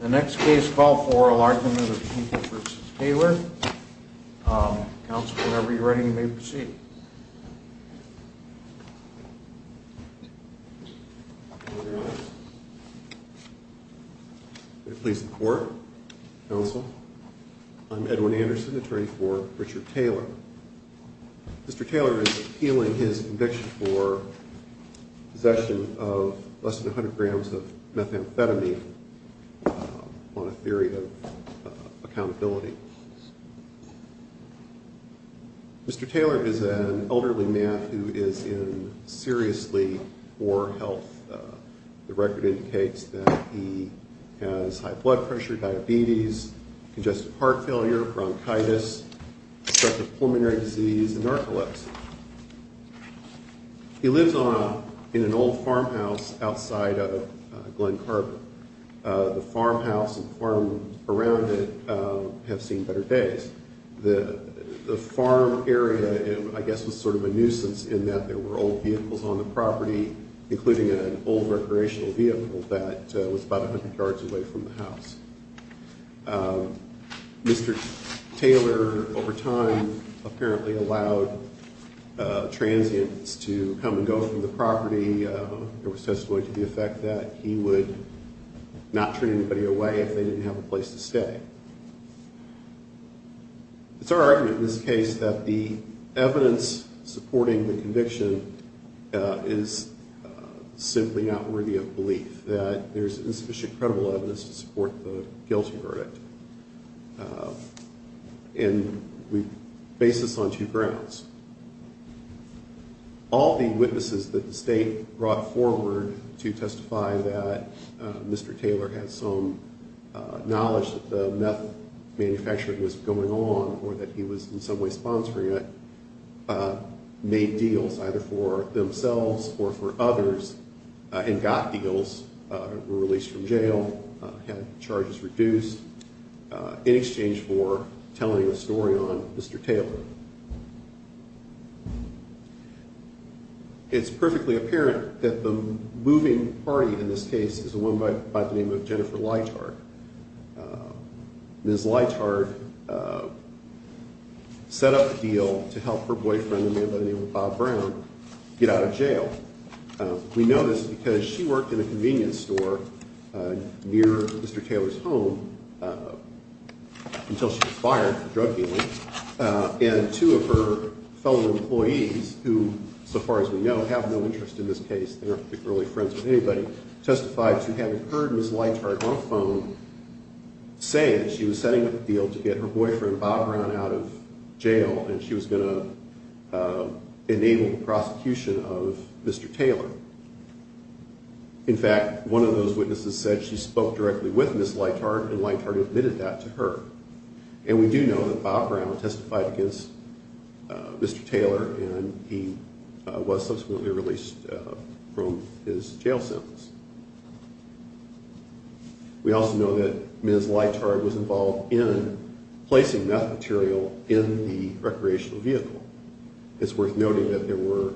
The next case, call for a large number of people v. Taylor. Counsel, whenever you're ready, you may proceed. May it please the Court, Counsel. I'm Edwin Anderson, attorney for Richard Taylor. Mr. Taylor is appealing his conviction for possession of less than 100 grams of methamphetamine on a theory of accountability. Mr. Taylor is an elderly man who is in seriously poor health. The record indicates that he has high blood pressure, diabetes, congestive heart failure, bronchitis, a stretch of pulmonary disease, and narcolepsy. He lives in an old farmhouse outside of Glen Carver. The farmhouse and the farm around it have seen better days. The farm area, I guess, was sort of a nuisance in that there were old vehicles on the property, including an old recreational vehicle that was about 100 yards away from the house. Mr. Taylor, over time, apparently allowed transients to come and go from the property. There was testimony to the effect that he would not treat anybody away if they didn't have a place to stay. It's our argument in this case that the evidence supporting the conviction is simply not worthy of belief, that there's insufficient credible evidence to support the guilty verdict. And we base this on two grounds. All the witnesses that the state brought forward to testify that Mr. Taylor had some knowledge that the meth manufacturing was going on, or that he was in some way sponsoring it, made deals either for themselves or for others, and got deals, were released from jail, had charges reduced, in exchange for telling a story on Mr. Taylor. It's perfectly apparent that the moving party in this case is a woman by the name of Jennifer Leithart. Ms. Leithart set up a deal to help her boyfriend, a man by the name of Bob Brown, get out of jail. We know this because she worked in a convenience store near Mr. Taylor's home until she was fired for drug dealing. And two of her fellow employees, who, so far as we know, have no interest in this case and aren't particularly friends with anybody, testified to having heard Ms. Leithart on the phone saying that she was setting up a deal to get her boyfriend, Bob Brown, out of jail, and she was going to enable the prosecution of Mr. Taylor. In fact, one of those witnesses said she spoke directly with Ms. Leithart, and Leithart admitted that to her. And we do know that Bob Brown testified against Mr. Taylor, and he was subsequently released from his jail sentence. We also know that Ms. Leithart was involved in placing meth material in the recreational vehicle. It's worth noting that there were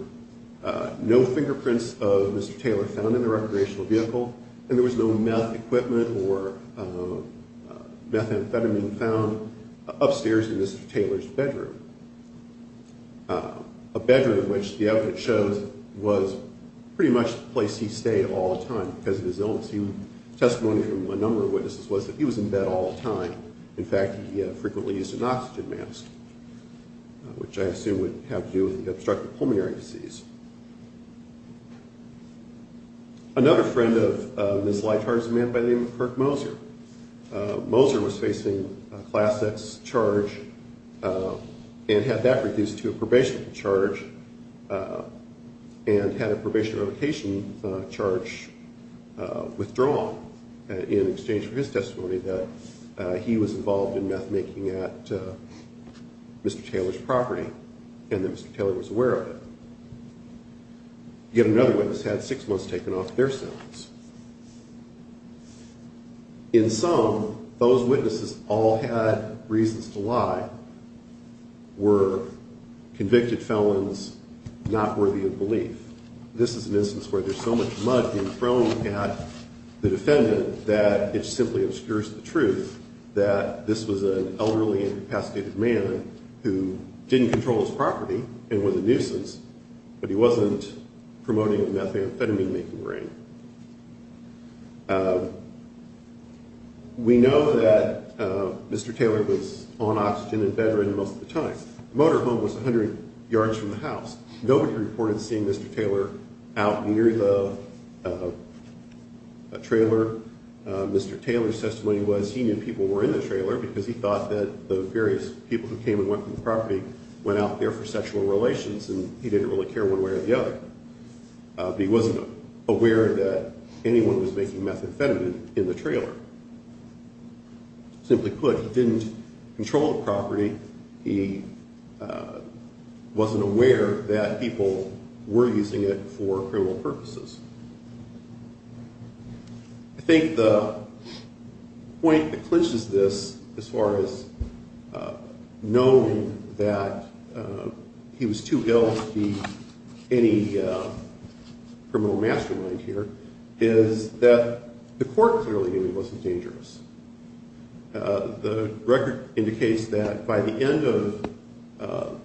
no fingerprints of Mr. Taylor found in the recreational vehicle, and there was no meth equipment or methamphetamine found upstairs in Mr. Taylor's bedroom, a bedroom which the evidence shows was pretty much the place he stayed all the time because of his illness. Testimony from a number of witnesses was that he was in bed all the time. In fact, he frequently used an oxygen mask, which I assume would have to do with obstructive pulmonary disease. Another friend of Ms. Leithart is a man by the name of Kirk Moser. Moser was facing a Class X charge and had that reduced to a probationary charge and had a probationary revocation charge withdrawn in exchange for his testimony that he was involved in meth making at Mr. Taylor's property and that Mr. Taylor was aware of it. Yet another witness had six months taken off their sentence. In sum, those witnesses all had reasons to lie, were convicted felons not worthy of belief. This is an instance where there's so much mud being thrown at the defendant that it simply obscures the truth that this was an elderly incapacitated man who didn't control his property and was a nuisance, but he wasn't promoting the methamphetamine making ring. We know that Mr. Taylor was on oxygen in bedroom most of the time. Motor home was 100 yards from the house. Nobody reported seeing Mr. Taylor out near the trailer. Mr. Taylor's testimony was he knew people were in the trailer because he thought that the various people who came and went from the property went out there for sexual relations and he didn't really care one way or the other. He wasn't aware that anyone was making methamphetamine in the trailer. Simply put, he didn't control the property. He wasn't aware that people were using it for criminal purposes. I think the point that clinches this as far as knowing that he was too ill to be any criminal mastermind here is that the court clearly knew he wasn't dangerous. The record indicates that by the end of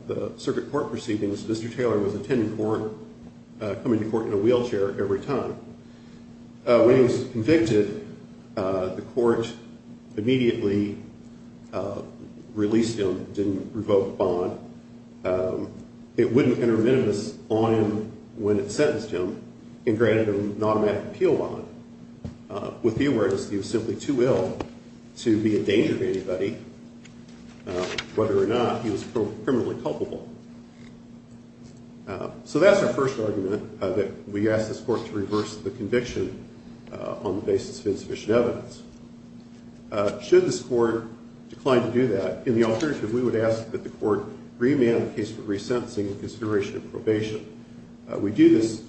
the circuit court proceedings, Mr. Taylor was attending court, coming to court in a wheelchair every time. When he was convicted, the court immediately released him, didn't revoke the bond. It wouldn't enter a minimus on him when it sentenced him and granted him an automatic appeal bond. With the awareness that he was simply too ill to be a danger to anybody, whether or not he was criminally culpable. So that's our first argument, that we ask this court to reverse the conviction on the basis of insufficient evidence. Should this court decline to do that, in the alternative, we would ask that the court remand the case for resentencing in consideration of probation. We do this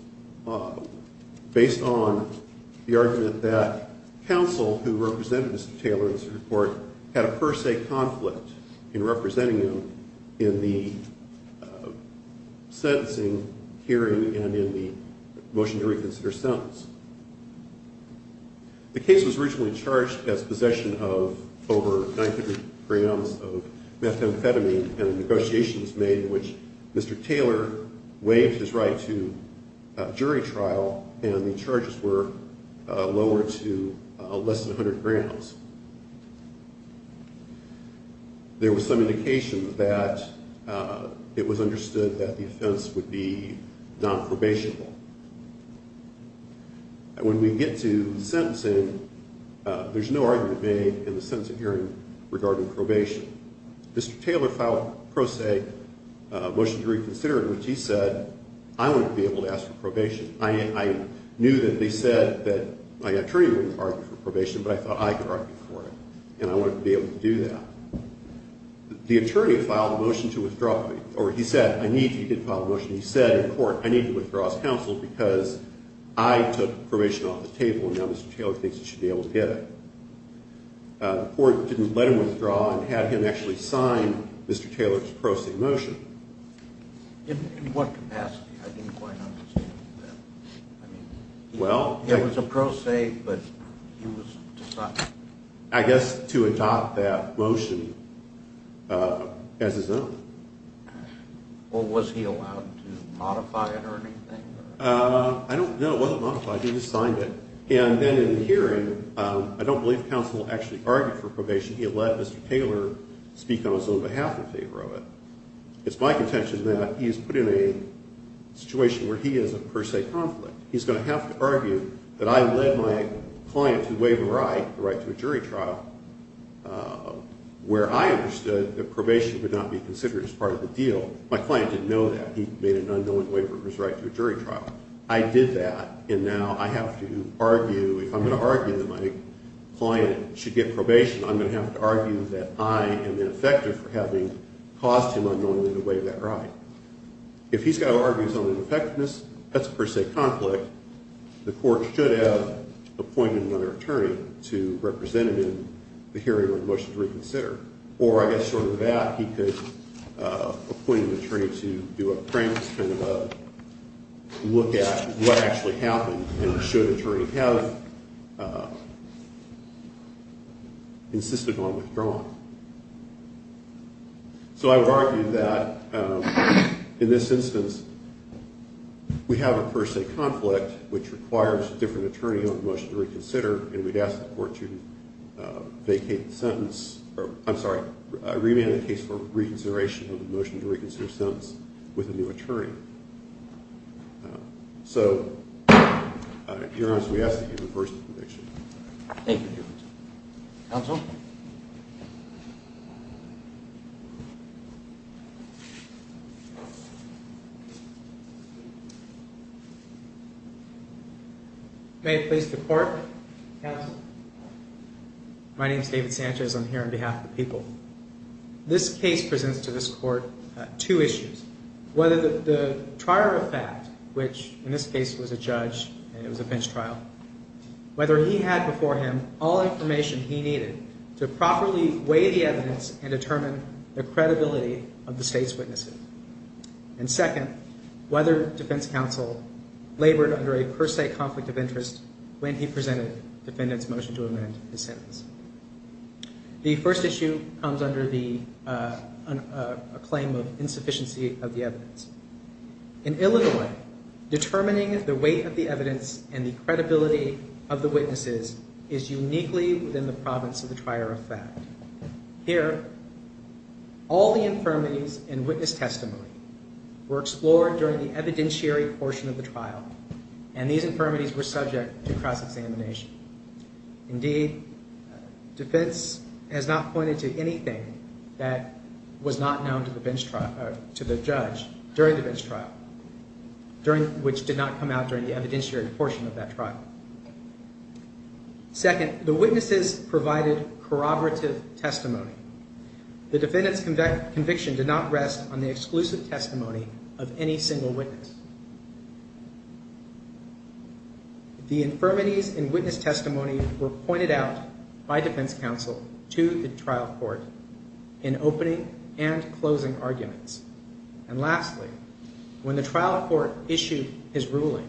based on the argument that counsel who represented Mr. Taylor in the circuit court had a per se conflict in representing him in the sentencing hearing and in the motion to reconsider sentence. The case was originally charged as possession of over 900 grams of methamphetamine and a negotiation was made in which Mr. Taylor waived his right to jury trial and the charges were lower to less than 100 grams. There was some indication that it was understood that the offense would be non-probationable. When we get to sentencing, there's no argument made in the sentencing hearing regarding probation. Mr. Taylor filed a per se motion to reconsider in which he said, I wouldn't be able to ask for probation. I knew that they said that my attorney wouldn't argue for probation, but I thought I could argue for it and I wanted to be able to do that. The attorney filed a motion to withdraw, or he said, he did file a motion, he said in court, I need to withdraw as counsel because I took probation off the table and now Mr. Taylor thinks he should be able to get it. The court didn't let him withdraw and had him actually sign Mr. Taylor's pro se motion. In what capacity? I didn't quite understand that. It was a pro se, but he was deciding. I guess to adopt that motion as his own. Was he allowed to modify it or anything? No, it wasn't modified. He just signed it. And then in the hearing, I don't believe counsel actually argued for probation. He let Mr. Taylor speak on his own behalf in favor of it. It's my contention that he's put in a situation where he is a per se conflict. He's going to have to argue that I led my client to waive a right, the right to a jury trial, where I understood that probation would not be considered as part of the deal. My client didn't know that. He made an unknowing waiver of his right to a jury trial. I did that, and now I have to argue, if I'm going to argue that my client should get probation, I'm going to have to argue that I am ineffective for having caused him unknowingly to waive that right. If he's got to argue his own ineffectiveness, that's a per se conflict. The court should have appointed another attorney to represent him in the hearing when the motion is reconsidered. Or, I guess, short of that, he could appoint an attorney to do a premise kind of a look at what actually happened and should an attorney have insisted on withdrawing. So I would argue that in this instance, we have a per se conflict, which requires a different attorney on the motion to reconsider, and we'd ask the court to vacate the sentence, or I'm sorry, remand the case for reconsideration of the motion to reconsider the sentence with a new attorney. So, Your Honor, we ask that you reverse the conviction. Thank you, Your Honor. Counsel? May it please the Court? Counsel? My name is David Sanchez. I'm here on behalf of the people. This case presents to this Court two issues. Whether the trier of fact, which in this case was a judge and it was a bench trial, whether he had before him all information he needed to properly weigh the evidence and determine the credibility of the state's witnesses. And second, whether defense counsel labored under a per se conflict of interest when he presented the defendant's motion to amend his sentence. The first issue comes under the claim of insufficiency of the evidence. In Illinois, determining the weight of the evidence and the credibility of the witnesses is uniquely within the province of the trier of fact. Here, all the infirmities in witness testimony were explored during the evidentiary portion of the trial, and these infirmities were subject to cross-examination. Indeed, defense has not pointed to anything that was not known to the judge during the bench trial, which did not come out during the evidentiary portion of that trial. Second, the witnesses provided corroborative testimony. The defendant's conviction did not rest on the exclusive testimony of any single witness. The infirmities in witness testimony were pointed out by defense counsel to the trial court in opening and closing arguments. And lastly, when the trial court issued his ruling,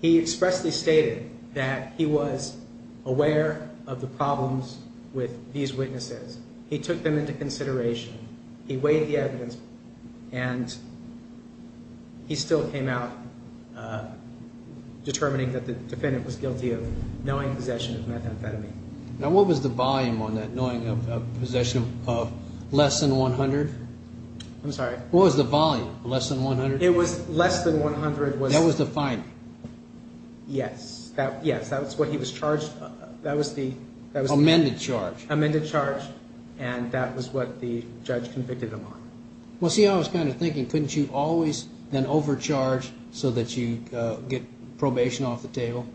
he expressly stated that he was aware of the problems with these witnesses. He took them into consideration. He weighed the evidence, and he still came out determining that the defendant was guilty of knowing possession of methamphetamine. Now, what was the volume on that, knowing of possession of less than 100? I'm sorry? What was the volume, less than 100? It was less than 100. That was the finding? Yes. Yes, that was what he was charged. That was the... Amended charge. Amended charge, and that was what the judge convicted him on. Well, see, I was kind of thinking, couldn't you always then overcharge so that you get probation off the table?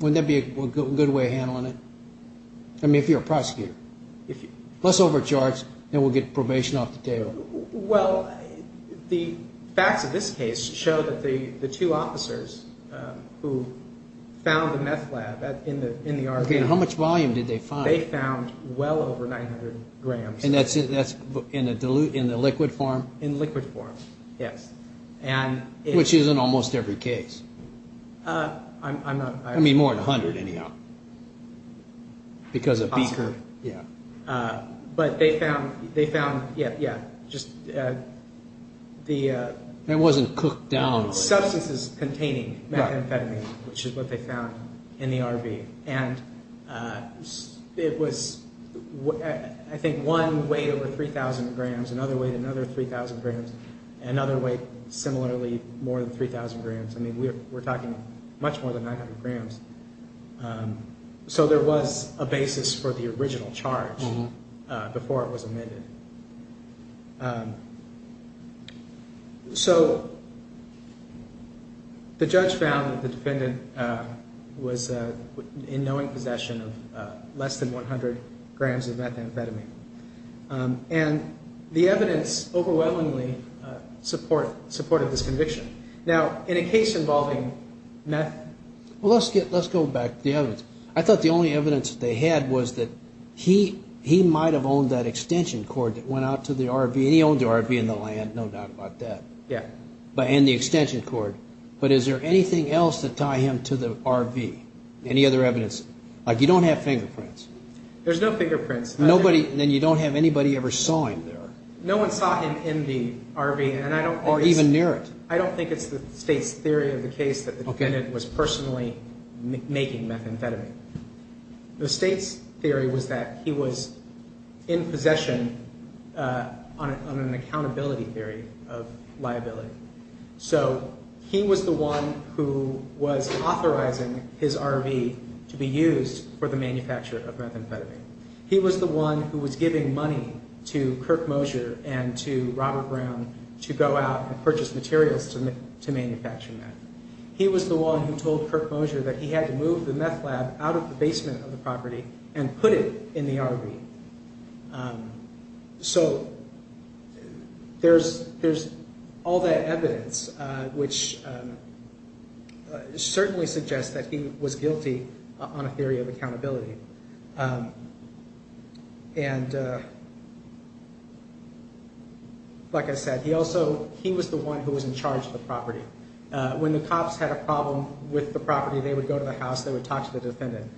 Wouldn't that be a good way of handling it? I mean, if you're a prosecutor. If you... Less overcharge, then we'll get probation off the table. Well, the facts of this case show that the two officers who found the meth lab in the RV... Okay, and how much volume did they find? They found well over 900 grams. And that's in the liquid form? In liquid form, yes. Which is in almost every case. I'm not... I mean, more than 100, anyhow, because of Beaker. But they found, yeah, just the... It wasn't cooked down. Substances containing methamphetamine, which is what they found in the RV. And it was, I think, one weighed over 3,000 grams, another weighed another 3,000 grams, and another weighed, similarly, more than 3,000 grams. I mean, we're talking much more than 900 grams. So there was a basis for the original charge before it was amended. So the judge found that the defendant was in knowing possession of less than 100 grams of methamphetamine. And the evidence overwhelmingly supported this conviction. Now, in a case involving meth... Well, let's go back to the evidence. I thought the only evidence they had was that he might have owned that extension cord that went out to the RV. And he owned the RV and the land, no doubt about that. Yeah. And the extension cord. But is there anything else to tie him to the RV? Any other evidence? Like, you don't have fingerprints. There's no fingerprints. Then you don't have anybody ever saw him there. No one saw him in the RV. Or even near it. I don't think it's the State's theory of the case that the defendant was personally making methamphetamine. The State's theory was that he was in possession on an accountability theory of liability. So he was the one who was authorizing his RV to be used for the manufacture of methamphetamine. He was the one who was giving money to Kirk Mosier and to Robert Brown to go out and purchase materials to manufacture meth. He was the one who told Kirk Mosier that he had to move the meth lab out of the basement of the property and put it in the RV. So there's all that evidence which certainly suggests that he was guilty on a theory of accountability. And like I said, he was the one who was in charge of the property. When the cops had a problem with the property, they would go to the house, they would talk to the defendant.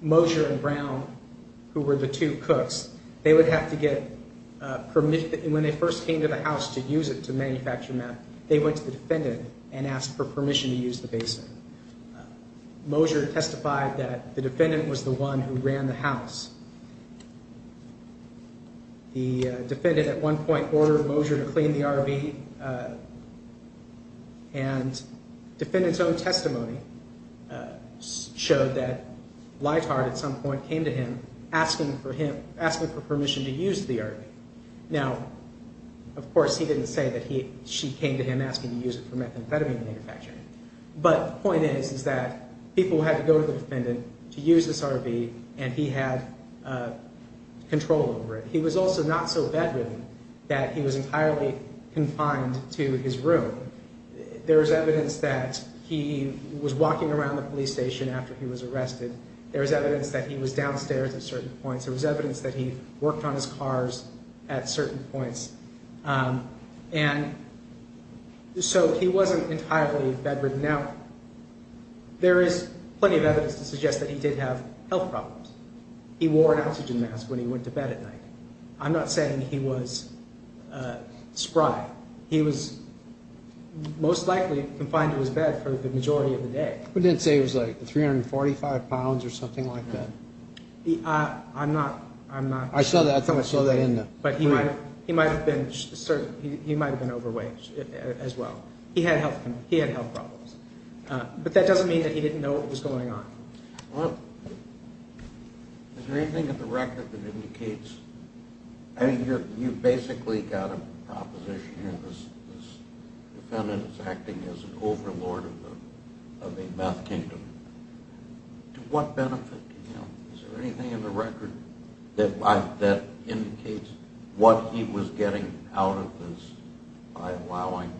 Mosier and Brown, who were the two cooks, they would have to get permission. When they first came to the house to use it to manufacture meth, they went to the defendant and asked for permission to use the basement. Mosier testified that the defendant was the one who ran the house. The defendant at one point ordered Mosier to clean the RV. And defendant's own testimony showed that Leithart at some point came to him asking for permission to use the RV. Now, of course, he didn't say that she came to him asking to use it for methamphetamine manufacturing. But the point is that people had to go to the defendant to use this RV and he had control over it. He was also not so bedridden that he was entirely confined to his room. There was evidence that he was walking around the police station after he was arrested. There was evidence that he was downstairs at certain points. There was evidence that he worked on his cars at certain points. And so he wasn't entirely bedridden. Now, there is plenty of evidence to suggest that he did have health problems. He wore an oxygen mask when he went to bed at night. I'm not saying he was spry. He was most likely confined to his bed for the majority of the day. But didn't say he was like 345 pounds or something like that. I'm not. I saw that. But he might have been overweight as well. He had health problems. But that doesn't mean that he didn't know what was going on. Well, is there anything in the record that indicates? I mean, you basically got a proposition here. This defendant is acting as an overlord of a meth kingdom. To what benefit to him? Is there anything in the record that indicates what he was getting out of this by allowing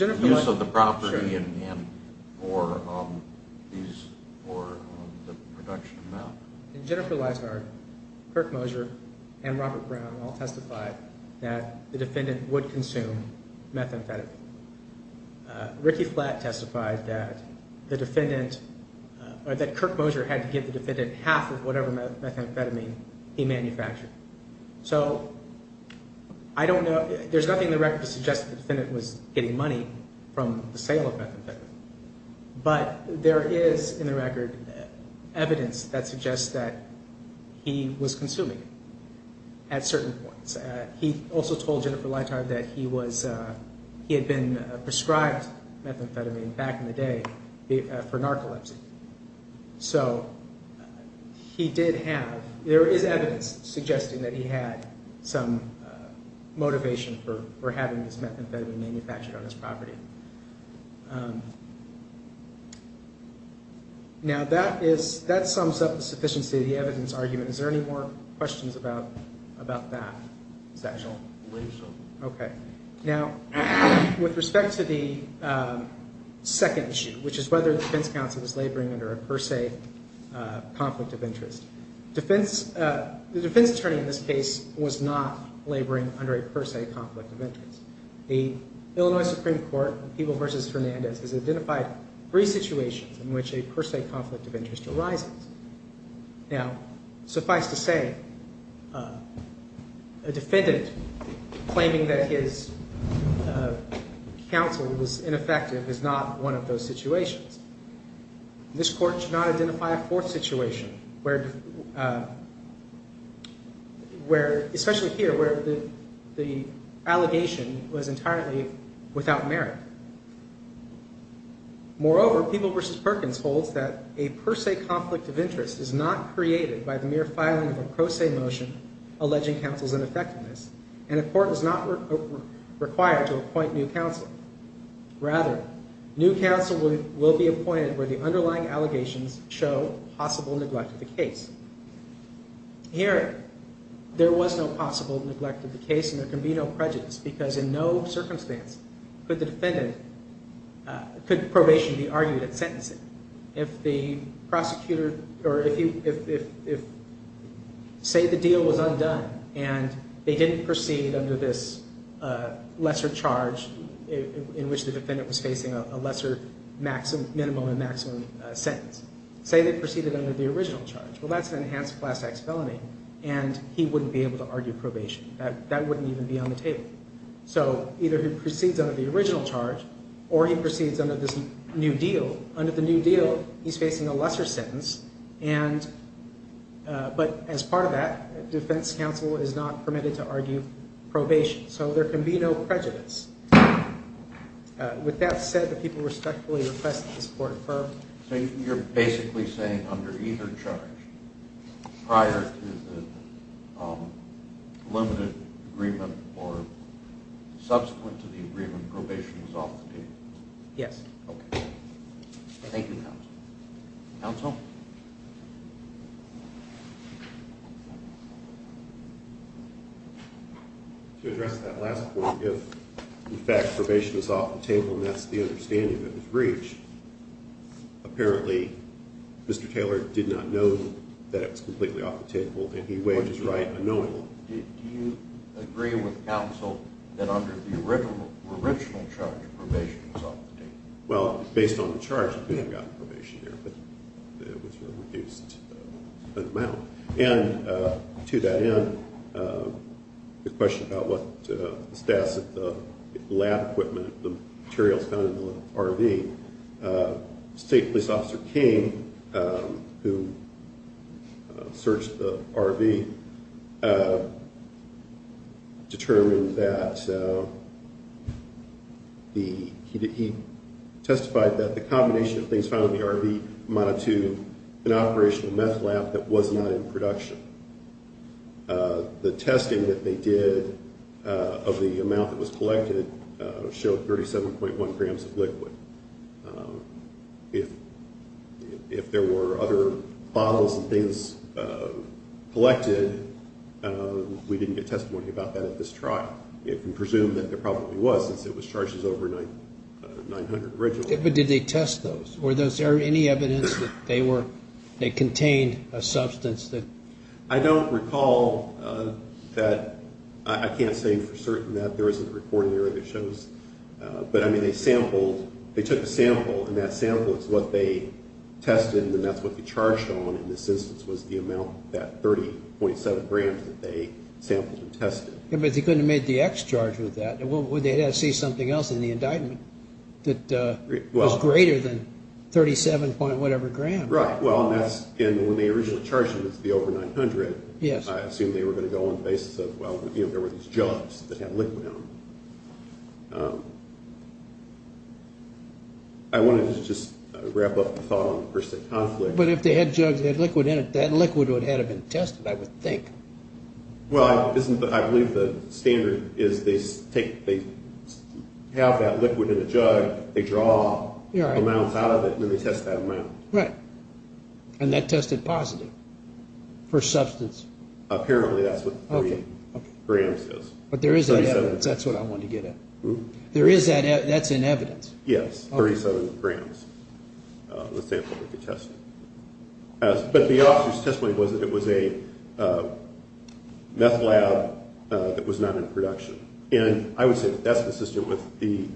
use of the property or the production of meth? In Jennifer Lizard, Kirk Mosier and Robert Brown all testified that the defendant would consume methamphetamine. Ricky Flatt testified that Kirk Mosier had to give the defendant half of whatever methamphetamine he manufactured. So I don't know. There's nothing in the record to suggest the defendant was getting money from the sale of methamphetamine. But there is, in the record, evidence that suggests that he was consuming it at certain points. He also told Jennifer Lizard that he had been prescribed methamphetamine back in the day for narcolepsy. So he did have, there is evidence suggesting that he had some motivation for having this methamphetamine manufactured on his property. Now, that sums up the sufficiency of the evidence argument. Is there any more questions about that sectional? I believe so. Okay. Now, with respect to the second issue, which is whether the defense counsel is laboring under a per se conflict of interest, the defense attorney in this case was not laboring under a per se conflict of interest. The Illinois Supreme Court, People v. Fernandez, has identified three situations in which a per se conflict of interest arises. Now, suffice to say, a defendant claiming that his counsel was ineffective is not one of those situations. This court should not identify a fourth situation where, especially here, where the allegation was entirely without merit. Moreover, People v. Perkins holds that a per se conflict of interest is not created by the mere filing of a pro se motion alleging counsel's ineffectiveness, and a court is not required to appoint new counsel. Rather, new counsel will be appointed where the underlying allegations show possible neglect of the case. Here, there was no possible neglect of the case, and there can be no prejudice because in no circumstance could probation be argued at sentencing. Say the deal was undone, and they didn't proceed under this lesser charge in which the defendant was facing a lesser minimum and maximum sentence. Say they proceeded under the original charge. Well, that's an enhanced class X felony, and he wouldn't be able to argue probation. That wouldn't even be on the table. So either he proceeds under the original charge or he proceeds under this new deal. Under the new deal, he's facing a lesser sentence, but as part of that, defense counsel is not permitted to argue probation. So there can be no prejudice. With that said, the people respectfully request that this court affirm. So you're basically saying under either charge, prior to the limited agreement or subsequent to the agreement, probation is off the table? Yes. Okay. Thank you, counsel. Counsel? To address that last point, if, in fact, probation is off the table, and that's the understanding that was reached, apparently Mr. Taylor did not know that it was completely off the table and he wages right unknowingly. Do you agree with counsel that under the original charge, probation was off the table? Well, based on the charge, the defendant got probation there, but it was reduced an amount. And to that end, the question about what the status of the lab equipment, the materials found in the RV, State Police Officer King, who searched the RV, determined that he testified that the combination of things found in the RV amounted to an operational meth lab that was not in production. The testing that they did of the amount that was collected showed 37.1 grams of liquid. If there were other bottles and things collected, we didn't get testimony about that at this trial. You can presume that there probably was, since it was charged as over 900 originally. But did they test those? Were there any evidence that they contained a substance? I don't recall that. I can't say for certain that there isn't a recording that shows. But they took a sample, and that sample is what they tested, and that's what they charged on in this instance was the amount, that 30.7 grams that they sampled and tested. But they couldn't have made the X charge with that. Well, they had to see something else in the indictment that was greater than 37. whatever grams. Right. Well, and that's when they originally charged them as the over 900. Yes. I assume they were going to go on the basis of, well, there were these jugs that had liquid in them. I wanted to just wrap up the thought on the per se conflict. But if they had jugs that had liquid in it, that liquid would have been tested, I would think. Well, I believe the standard is they have that liquid in the jug, they draw amounts out of it, and then they test that amount. Right. And that tested positive for substance? Apparently that's what 30 grams is. But there is that evidence. That's what I wanted to get at. There is that evidence. That's in evidence. Yes, 37 grams, the sample that they tested. But the officer's testimony was that it was a meth lab that was not in production. And I would say that that's consistent with the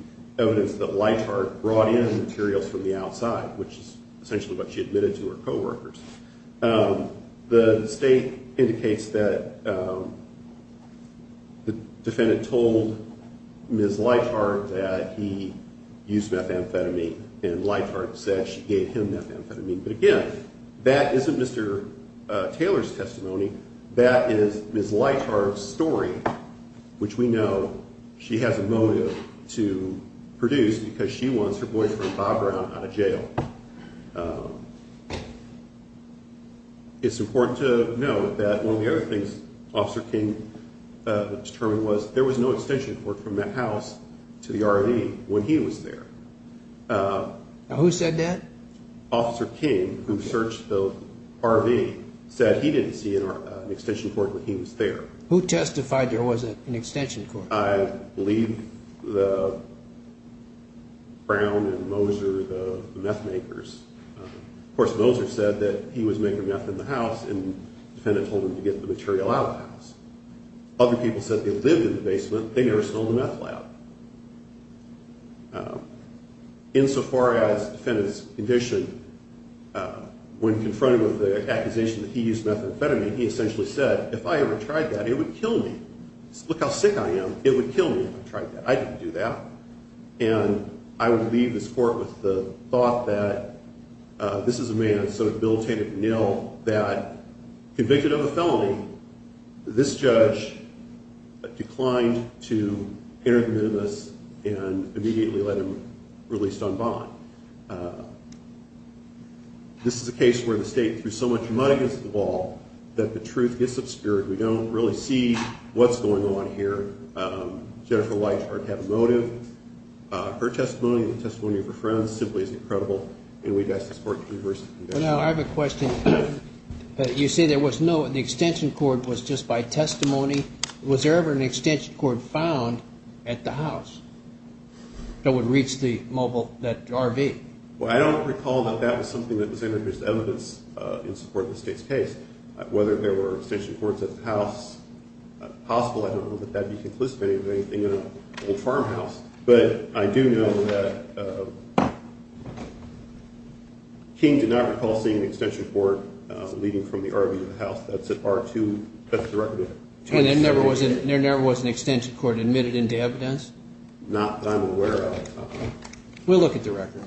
evidence that Leithart brought in materials from the outside, which is essentially what she admitted to her coworkers. The state indicates that the defendant told Ms. Leithart that he used methamphetamine, and Leithart said she gave him methamphetamine. But again, that isn't Mr. Taylor's testimony. That is Ms. Leithart's story, which we know she has a motive to produce because she wants her boyfriend, Bob Brown, out of jail. It's important to note that one of the other things Officer King determined was there was no extension cord from that house to the RV when he was there. Who said that? Officer King, who searched the RV, said he didn't see an extension cord when he was there. Who testified there was an extension cord? I believe Brown and Moser, the meth makers. Of course, Moser said that he was making meth in the house, and the defendant told him to get the material out of the house. Other people said they lived in the basement. They never stole the meth lab. Insofar as the defendant's condition, when confronted with the accusation that he used methamphetamine, he essentially said, if I ever tried that, it would kill me. Look how sick I am. It would kill me if I tried that. I didn't do that. And I would leave this court with the thought that this is a man, this judge declined to enter the minimus and immediately let him released on bond. This is a case where the state threw so much money against the wall that the truth gets obscured. We don't really see what's going on here. Jennifer Whitehardt had a motive. Her testimony and the testimony of her friends simply is incredible, and we'd ask this court to reverse the conviction. Now, I have a question. You say there was no extension cord. It was just by testimony. Was there ever an extension cord found at the house that would reach the RV? Well, I don't recall that that was something that was evidence in support of the state's case. Whether there were extension cords at the house is possible. I don't know that that would be conclusive of anything in an old farmhouse. But I do know that King did not recall seeing an extension cord leading from the RV to the house. That's at R2. That's the record. And there never was an extension cord admitted into evidence? Not that I'm aware of. We'll look at the record.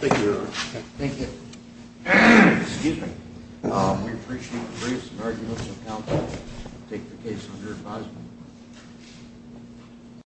Thank you, Your Honor. Thank you. Excuse me. We appreciate the grace and argument of the counsel to take the case under advisement.